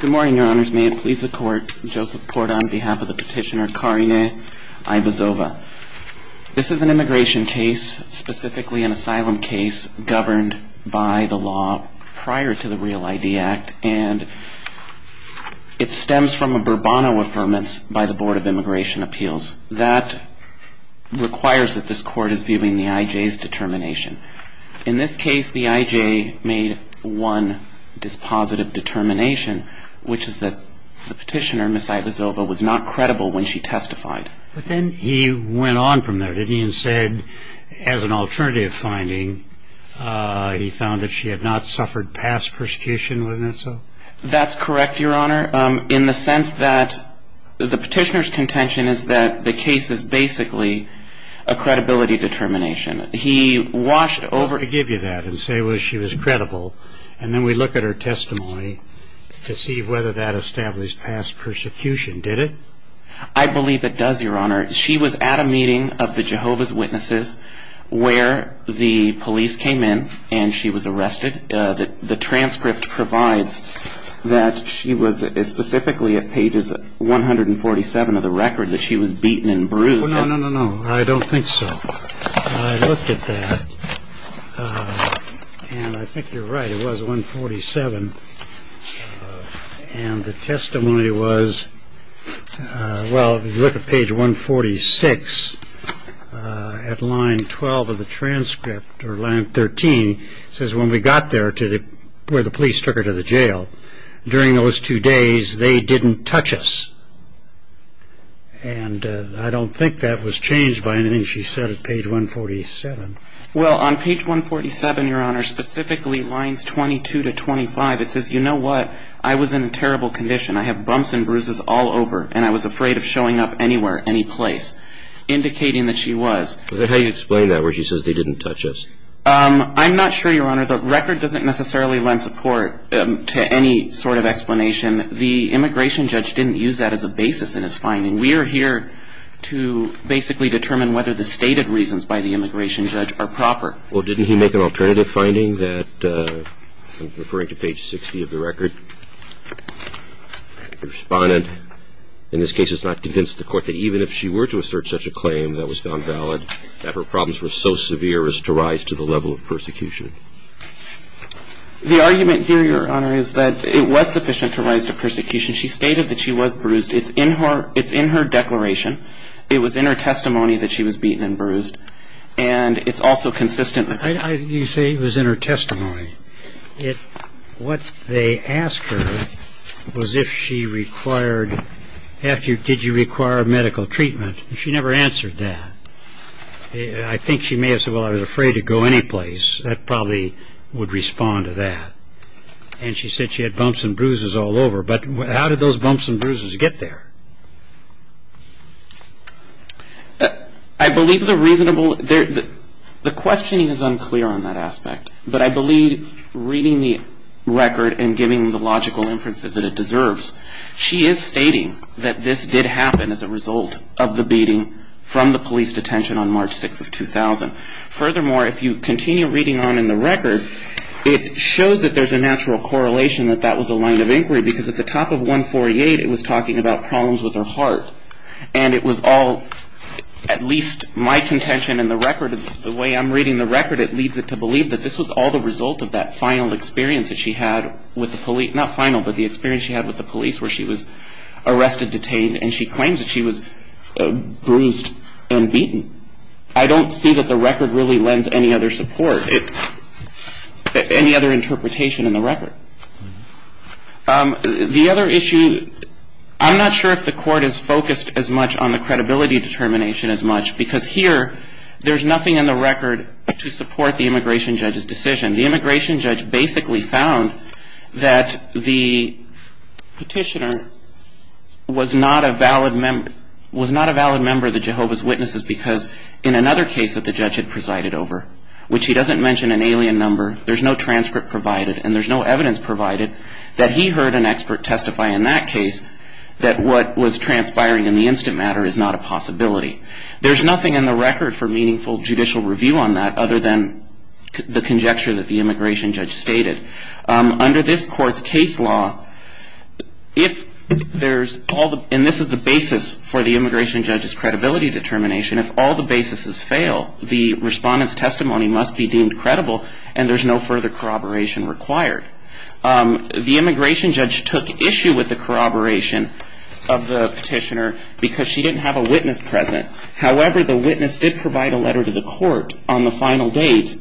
Good morning, your honors. May it please the court, Joseph Porta on behalf of the petitioner Karine Aivazova. This is an immigration case, specifically an asylum case governed by the law prior to the REAL ID Act and it stems from a Bourbonnoe Affirmance by the Board of Immigration Appeals. That requires that this court is viewing the IJ's determination. In this case, the IJ made one dispositive determination, which is that the petitioner, Ms. Aivazova, was not credible when she testified. But then he went on from there, didn't he? And said, as an alternative finding, he found that she had not suffered past persecution, wasn't it so? That's correct, your honor, in the sense that the petitioner's contention is that the case is basically a credibility determination. He washed over... Let me give you that and say, well, she was credible, and then we look at her testimony to see whether that established past persecution, did it? I believe it does, your honor. She was at a meeting of the Jehovah's Witnesses where the police came in and she was arrested. The transcript provides that she was specifically at pages 147 of the record that she was beaten and bruised. No, no, no, no, no, I don't think so. I looked at that, and I think you're right, it was 147. And the testimony was, well, if you look at page 146, at line 12 of the transcript, or line 13, it says when we got there to where the police took her to the jail, during those two days, they didn't touch us. And I don't think that was changed by anything she said at page 147. Well, on page 147, your honor, specifically lines 22 to 25, it says, you know what, I was in terrible condition. I have bumps and bruises all over, and I was afraid of showing up anywhere, any place, indicating that she was. How do you explain that where she says they didn't touch us? I'm not sure, your honor. The record doesn't necessarily lend support to any sort of explanation. The immigration judge didn't use that as a basis in his finding. We are here to basically determine whether the stated reasons by the immigration judge are proper. Well, didn't he make an alternative finding that, referring to page 60 of the record, the respondent in this case has not convinced the court that even if she were to assert such a claim that was found valid, that her problems were so severe as to rise to the level of persecution. The argument here, your honor, is that it was sufficient to rise to persecution. She stated that she was bruised. It's in her declaration. It was in her testimony that she was beaten and bruised. And it's also consistent with that. You say it was in her testimony. What they asked her was if she required, did you require medical treatment. She never answered that. I think she may have said, well, I was afraid to go any place. That probably would respond to that. And she said she had bumps and bruises all over. But how did those bumps and bruises get there? I believe the reasonable, the questioning is unclear on that aspect. But I believe reading the record and giving the logical inferences that it deserves, she is stating that this did happen as a result of the beating from the police detention on March 6th of 2000. Furthermore, if you continue reading on in the record, it shows that there's a natural correlation that that was a line of inquiry. Because at the top of 148, it was talking about problems with her heart. And it was all, at least my contention in the record, the way I'm reading the record, it leads it to believe that this was all the result of that final experience that she had with the police. Not final, but the experience she had with the police where she was arrested, detained, and she claims that she was bruised and beaten. I don't see that the record really lends any other support, any other interpretation in the record. The other issue, I'm not sure if the court is focused as much on the credibility determination as much. Because here, there's nothing in the record to support the immigration judge's decision. The immigration judge basically found that the petitioner was not a valid member of the Jehovah's Witnesses because in another case that the judge had presided over, which he doesn't mention an alien number, there's no transcript provided, and there's no evidence provided, that he heard an expert testify in that case that what was transpiring in the instant matter is not a possibility. There's nothing in the record for meaningful judicial review on that other than the conjecture that the immigration judge stated. Under this court's case law, if there's all the, and this is the basis for the immigration judge's credibility determination, if all the basis is fail, the respondent's testimony must be deemed credible, and there's no further corroboration required. The immigration judge took issue with the corroboration of the petitioner because she didn't have a witness present. However, the witness did provide a letter to the court on the final date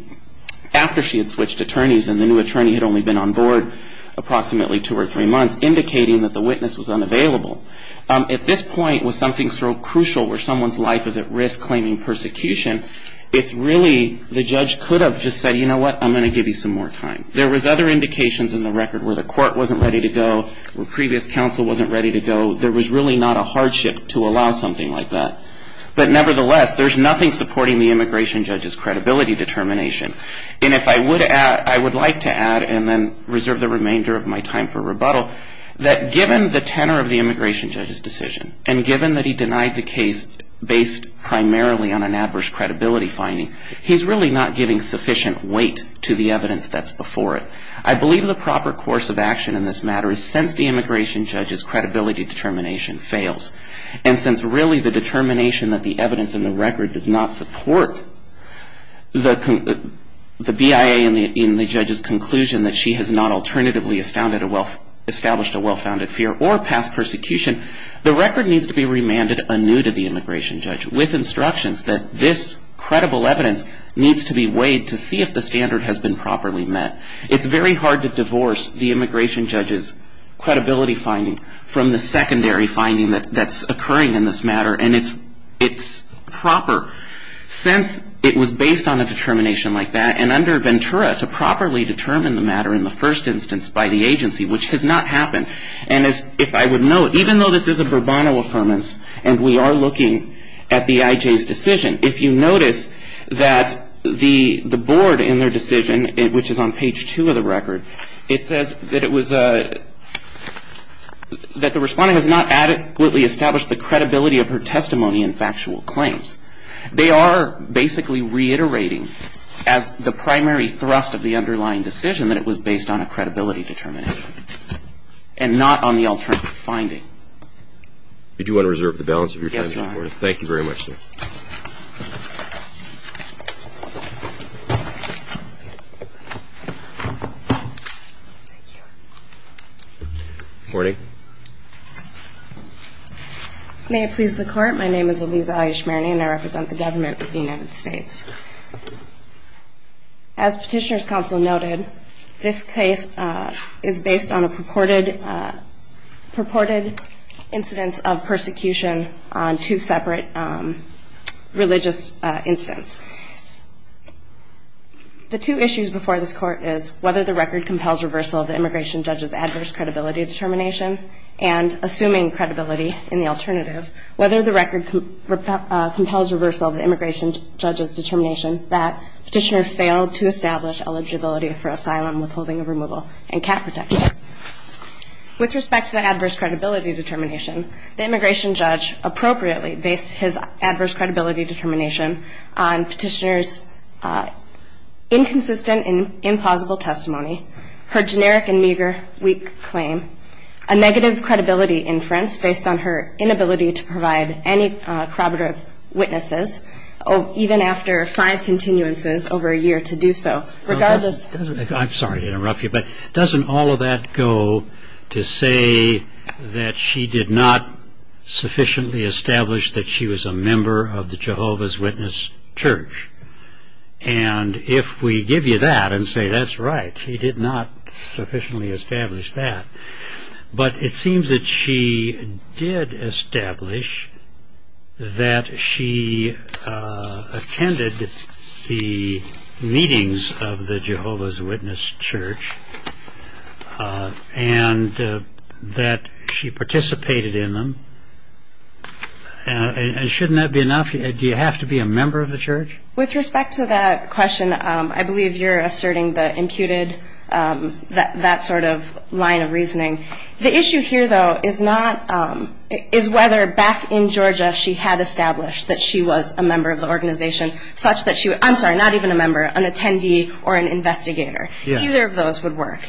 after she had switched attorneys and the new attorney had only been on board approximately two or three months, indicating that the witness was unavailable. If this point was something so crucial where someone's life is at risk claiming persecution, it's really, the judge could have just said, you know what, I'm going to give you some more time. There was other indications in the record where the court wasn't ready to go, where previous counsel wasn't ready to go. There was really not a hardship to allow something like that. But nevertheless, there's nothing supporting the immigration judge's credibility determination. And if I would add, I would like to add and then reserve the remainder of my time for rebuttal, that given the tenor of the immigration judge's decision, and given that he denied the case based primarily on an adverse credibility finding, he's really not giving sufficient weight to the evidence that's before it. I believe the proper course of action in this matter is since the immigration judge's credibility determination fails, and since really the determination that the evidence in the record does not support the BIA in the judge's conclusion that she has not alternatively established a well-founded fear or passed persecution, the record needs to be remanded anew to the immigration judge with instructions that this credible evidence needs to be weighed to see if the standard has been properly met. It's very hard to divorce the immigration judge's credibility finding from the secondary finding that's occurring in this matter, and it's proper since it was based on a determination like that and under Ventura to properly determine the matter in the first instance by the agency, which has not happened. And if I would note, even though this is a Burbano affirmance and we are looking at the IJ's decision, if you notice that the board in their decision, which is on page 2 of the record, it says that it was a, that the respondent has not adequately established the credibility of her testimony and factual claims. They are basically reiterating as the primary thrust of the underlying decision that it was based on a credibility determination and not on the alternative finding. Did you want to reserve the balance of your time? Yes, Your Honor. Thank you very much, sir. Good morning. May it please the Court. My name is Eliza Ayesh-Marney and I represent the government of the United States. As Petitioner's Counsel noted, this case is based on a purported incidence of persecution on two separate religious incidents. The two issues before this Court is whether the record compels reversal of the immigration judge's adverse credibility determination and, assuming credibility in the alternative, whether the record compels reversal of the immigration judge's determination that Petitioner failed to establish eligibility for asylum withholding of removal and cat protection. With respect to the adverse credibility determination, the immigration judge appropriately based his adverse credibility determination on Petitioner's inconsistent and implausible testimony, her generic and meager weak claim, a negative credibility inference based on her inability to provide any corroborative witnesses, even after five continuances over a year to do so. I'm sorry to interrupt you, but doesn't all of that go to say that she did not sufficiently establish that she was a member of the Jehovah's Witness Church? And if we give you that and say that's right, she did not sufficiently establish that. But it seems that she did establish that she attended the meetings of the Jehovah's Witness Church and that she participated in them. And shouldn't that be enough? Do you have to be a member of the church? With respect to that question, I believe you're asserting that imputed that sort of line of reasoning. The issue here, though, is whether back in Georgia she had established that she was a member of the organization, such that she would – I'm sorry, not even a member, an attendee or an investigator. Either of those would work.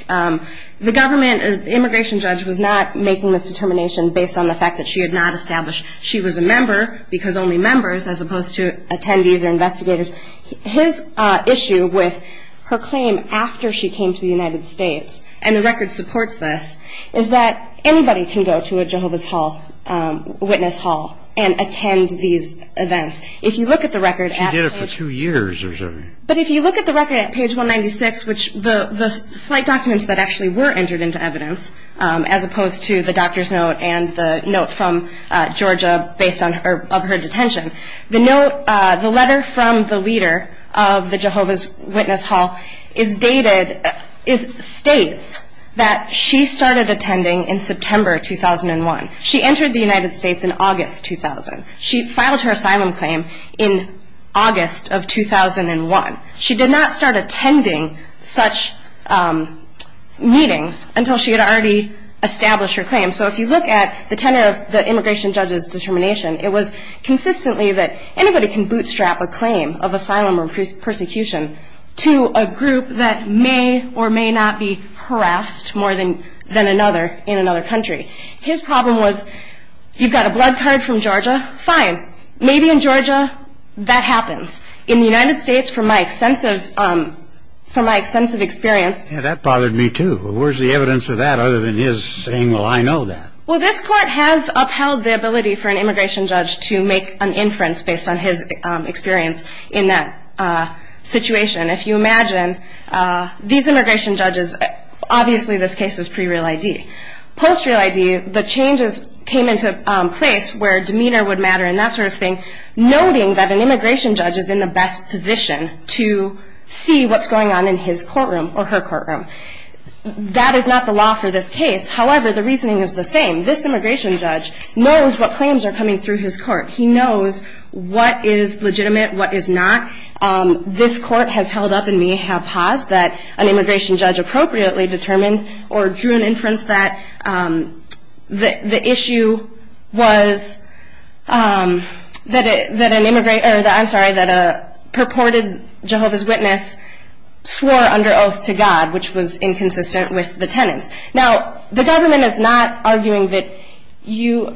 The government immigration judge was not making this determination based on the fact that she had not established she was a member because only members as opposed to attendees or investigators. His issue with her claim after she came to the United States, and the record supports this, is that anybody can go to a Jehovah's Witness Hall and attend these events. If you look at the record at page 196, which the slight documents that actually were entered into evidence, as opposed to the doctor's note and the note from Georgia based on her detention, the letter from the leader of the Jehovah's Witness Hall is dated – states that she started attending in September 2001. She entered the United States in August 2000. She filed her asylum claim in August of 2001. She did not start attending such meetings until she had already established her claim. So if you look at the tenant of the immigration judge's determination, it was consistently that anybody can bootstrap a claim of asylum or persecution to a group that may or may not be harassed more than another in another country. His problem was, you've got a blood card from Georgia, fine. Maybe in Georgia that happens. In the United States, from my sense of experience – Yeah, that bothered me too. Where's the evidence of that other than his saying, well, I know that? Well, this court has upheld the ability for an immigration judge to make an inference based on his experience in that situation. If you imagine, these immigration judges – obviously this case is pre-real ID. Post-real ID, the changes came into place where demeanor would matter and that sort of thing, noting that an immigration judge is in the best position to see what's going on in his courtroom or her courtroom. That is not the law for this case. However, the reasoning is the same. This immigration judge knows what claims are coming through his court. He knows what is legitimate, what is not. This court has held up and may have paused that an immigration judge inappropriately determined or drew an inference that the issue was that a purported Jehovah's Witness swore under oath to God, which was inconsistent with the tenets. Now, the government is not arguing that Your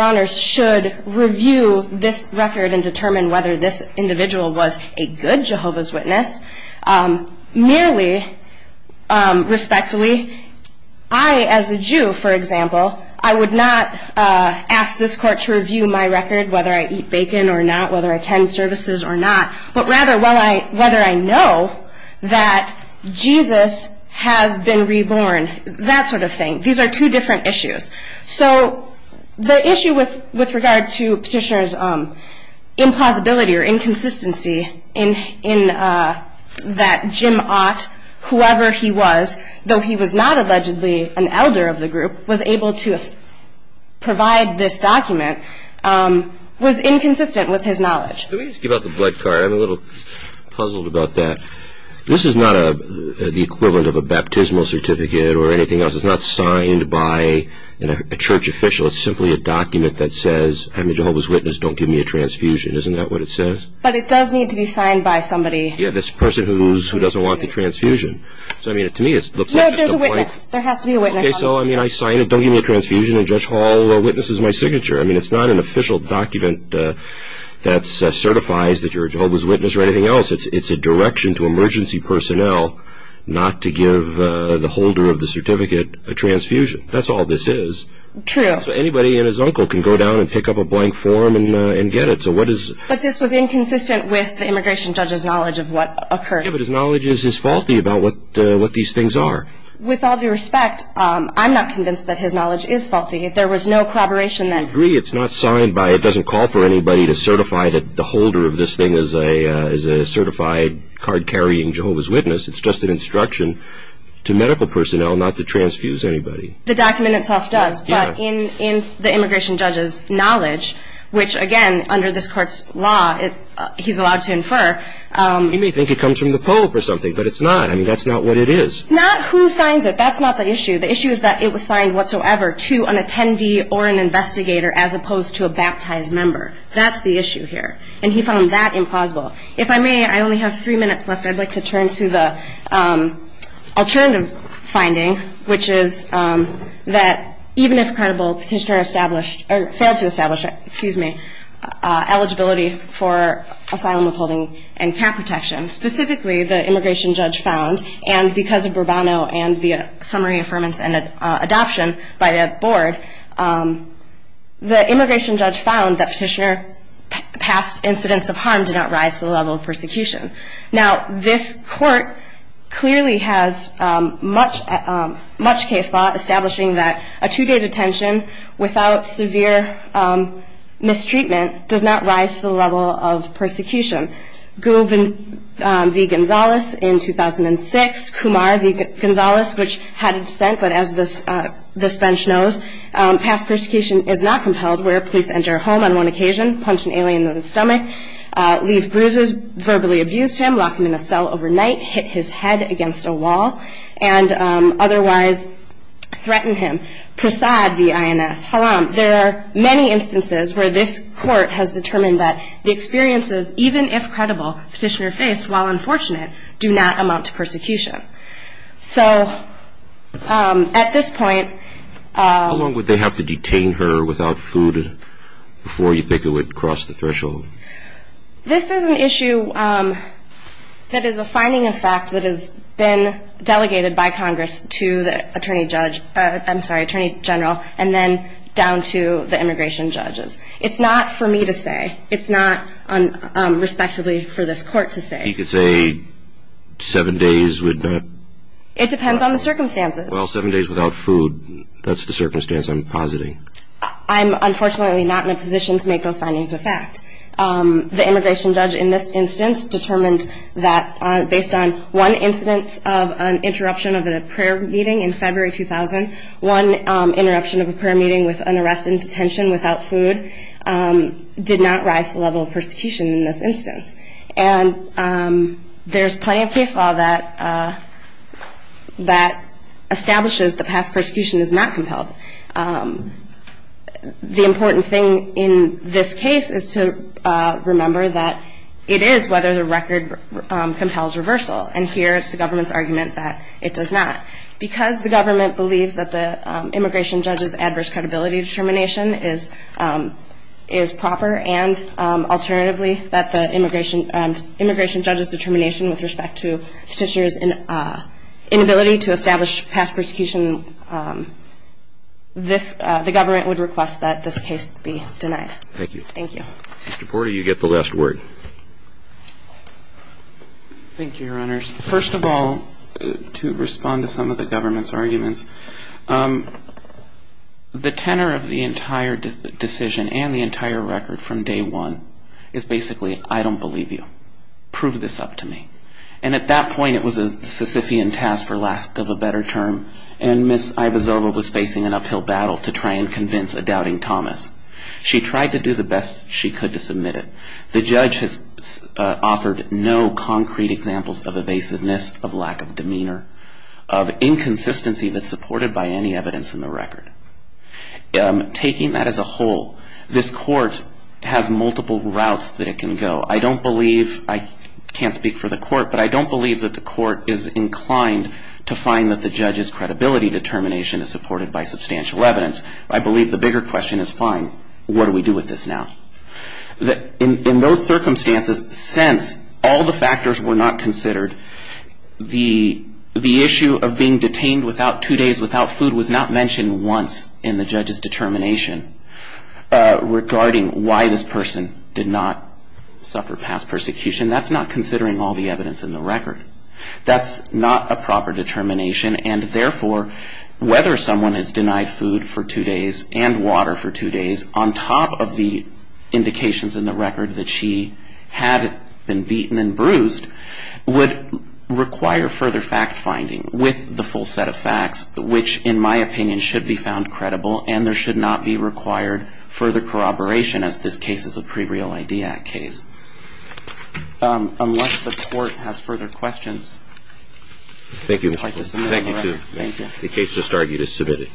Honors should review this record and determine whether this individual was a good Jehovah's Witness. Merely, respectfully, I as a Jew, for example, I would not ask this court to review my record whether I eat bacon or not, whether I attend services or not, but rather whether I know that Jesus has been reborn, that sort of thing. These are two different issues. So the issue with regard to Petitioner's implausibility or inconsistency in that Jim Ott, whoever he was, though he was not allegedly an elder of the group, was able to provide this document, was inconsistent with his knowledge. Let me just give out the black card. I'm a little puzzled about that. This is not the equivalent of a baptismal certificate or anything else. It's not signed by a church official. It's simply a document that says, I'm a Jehovah's Witness. Don't give me a transfusion. Isn't that what it says? But it does need to be signed by somebody. Yeah, this person who doesn't want the transfusion. No, there's a witness. There has to be a witness. Okay, so I sign it. Don't give me a transfusion. And Judge Hall witnesses my signature. It's not an official document that certifies that you're a Jehovah's Witness or anything else. It's a direction to emergency personnel not to give the holder of the certificate a transfusion. That's all this is. True. So anybody and his uncle can go down and pick up a blank form and get it. But this was inconsistent with the immigration judge's knowledge of what occurred. Yeah, but his knowledge is faulty about what these things are. With all due respect, I'm not convinced that his knowledge is faulty. If there was no collaboration then. I agree. It's not signed by, it doesn't call for anybody to certify that the holder of this thing is a certified card-carrying Jehovah's Witness. It's just an instruction to medical personnel not to transfuse anybody. The document itself does. Yeah. In the immigration judge's knowledge, which, again, under this court's law he's allowed to infer. He may think it comes from the Pope or something, but it's not. I mean, that's not what it is. Not who signs it. That's not the issue. The issue is that it was signed whatsoever to an attendee or an investigator as opposed to a baptized member. That's the issue here. And he found that implausible. If I may, I only have three minutes left. I'd like to turn to the alternative finding, which is that even if credible, Petitioner established, or failed to establish, excuse me, eligibility for asylum withholding and cap protection. Specifically, the immigration judge found, and because of Bourbono and the summary affirmance and adoption by the board, the immigration judge found that Petitioner passed incidents of harm did not rise to the level of persecution. Now, this court clearly has much case law establishing that a two-day detention without severe mistreatment does not rise to the level of persecution. Guven v. Gonzales in 2006, Kumar v. Gonzales, which hadn't been sent, but as this bench knows, past persecution is not compelled where police enter a home on one occasion, punch an alien in the stomach, leave bruises, verbally abuse him, lock him in a cell overnight, hit his head against a wall, and otherwise threaten him. Prasad v. INS, haram. There are many instances where this court has determined that the experiences, even if credible, Petitioner faced, while unfortunate, do not amount to persecution. So at this point... How long would they have to detain her without food before you think it would cross the threshold? This is an issue that is a finding of fact that has been delegated by Congress to the attorney judge, I'm sorry, attorney general, and then down to the immigration judges. It's not for me to say. It's not, respectively, for this court to say. You could say seven days would not... It depends on the circumstances. Well, seven days without food, that's the circumstance I'm positing. I'm unfortunately not in a position to make those findings a fact. The immigration judge in this instance determined that, based on one incident of an interruption of a prayer meeting in February 2000, one interruption of a prayer meeting with an arrest in detention without food did not rise to the level of persecution in this instance. And there's plenty of case law that establishes that past persecution is not compelled. The important thing in this case is to remember that it is whether the record compels reversal, and here it's the government's argument that it does not. Because the government believes that the immigration judge's adverse credibility determination is proper and alternatively that the immigration judge's determination with respect to petitioner's inability to establish past persecution, the government would request that this case be denied. Thank you. Thank you. Mr. Porter, you get the last word. Thank you, Your Honors. The tenor of the entire decision and the entire record from day one is basically, I don't believe you. Prove this up to me. And at that point it was a Sisyphean task for lack of a better term, and Ms. Ivozova was facing an uphill battle to try and convince a doubting Thomas. She tried to do the best she could to submit it. The judge has offered no concrete examples of evasiveness, of lack of demeanor, of inconsistency that's supported by any evidence in the record. Taking that as a whole, this court has multiple routes that it can go. I don't believe, I can't speak for the court, but I don't believe that the court is inclined to find that the judge's credibility determination is supported by substantial evidence. I believe the bigger question is, fine, what do we do with this now? In those circumstances, since all the factors were not considered, the issue of being detained two days without food was not mentioned once in the judge's determination regarding why this person did not suffer past persecution. That's not considering all the evidence in the record. That's not a proper determination, and therefore, whether someone has denied food for two days and water for two days on top of the indications in the record that she had been beaten and bruised would require further fact-finding with the full set of facts, which, in my opinion, should be found credible, and there should not be required further corroboration, as this case is a pre-Real ID Act case. Unless the court has further questions, I'd like to submit it. Thank you. The case just argued is submitted.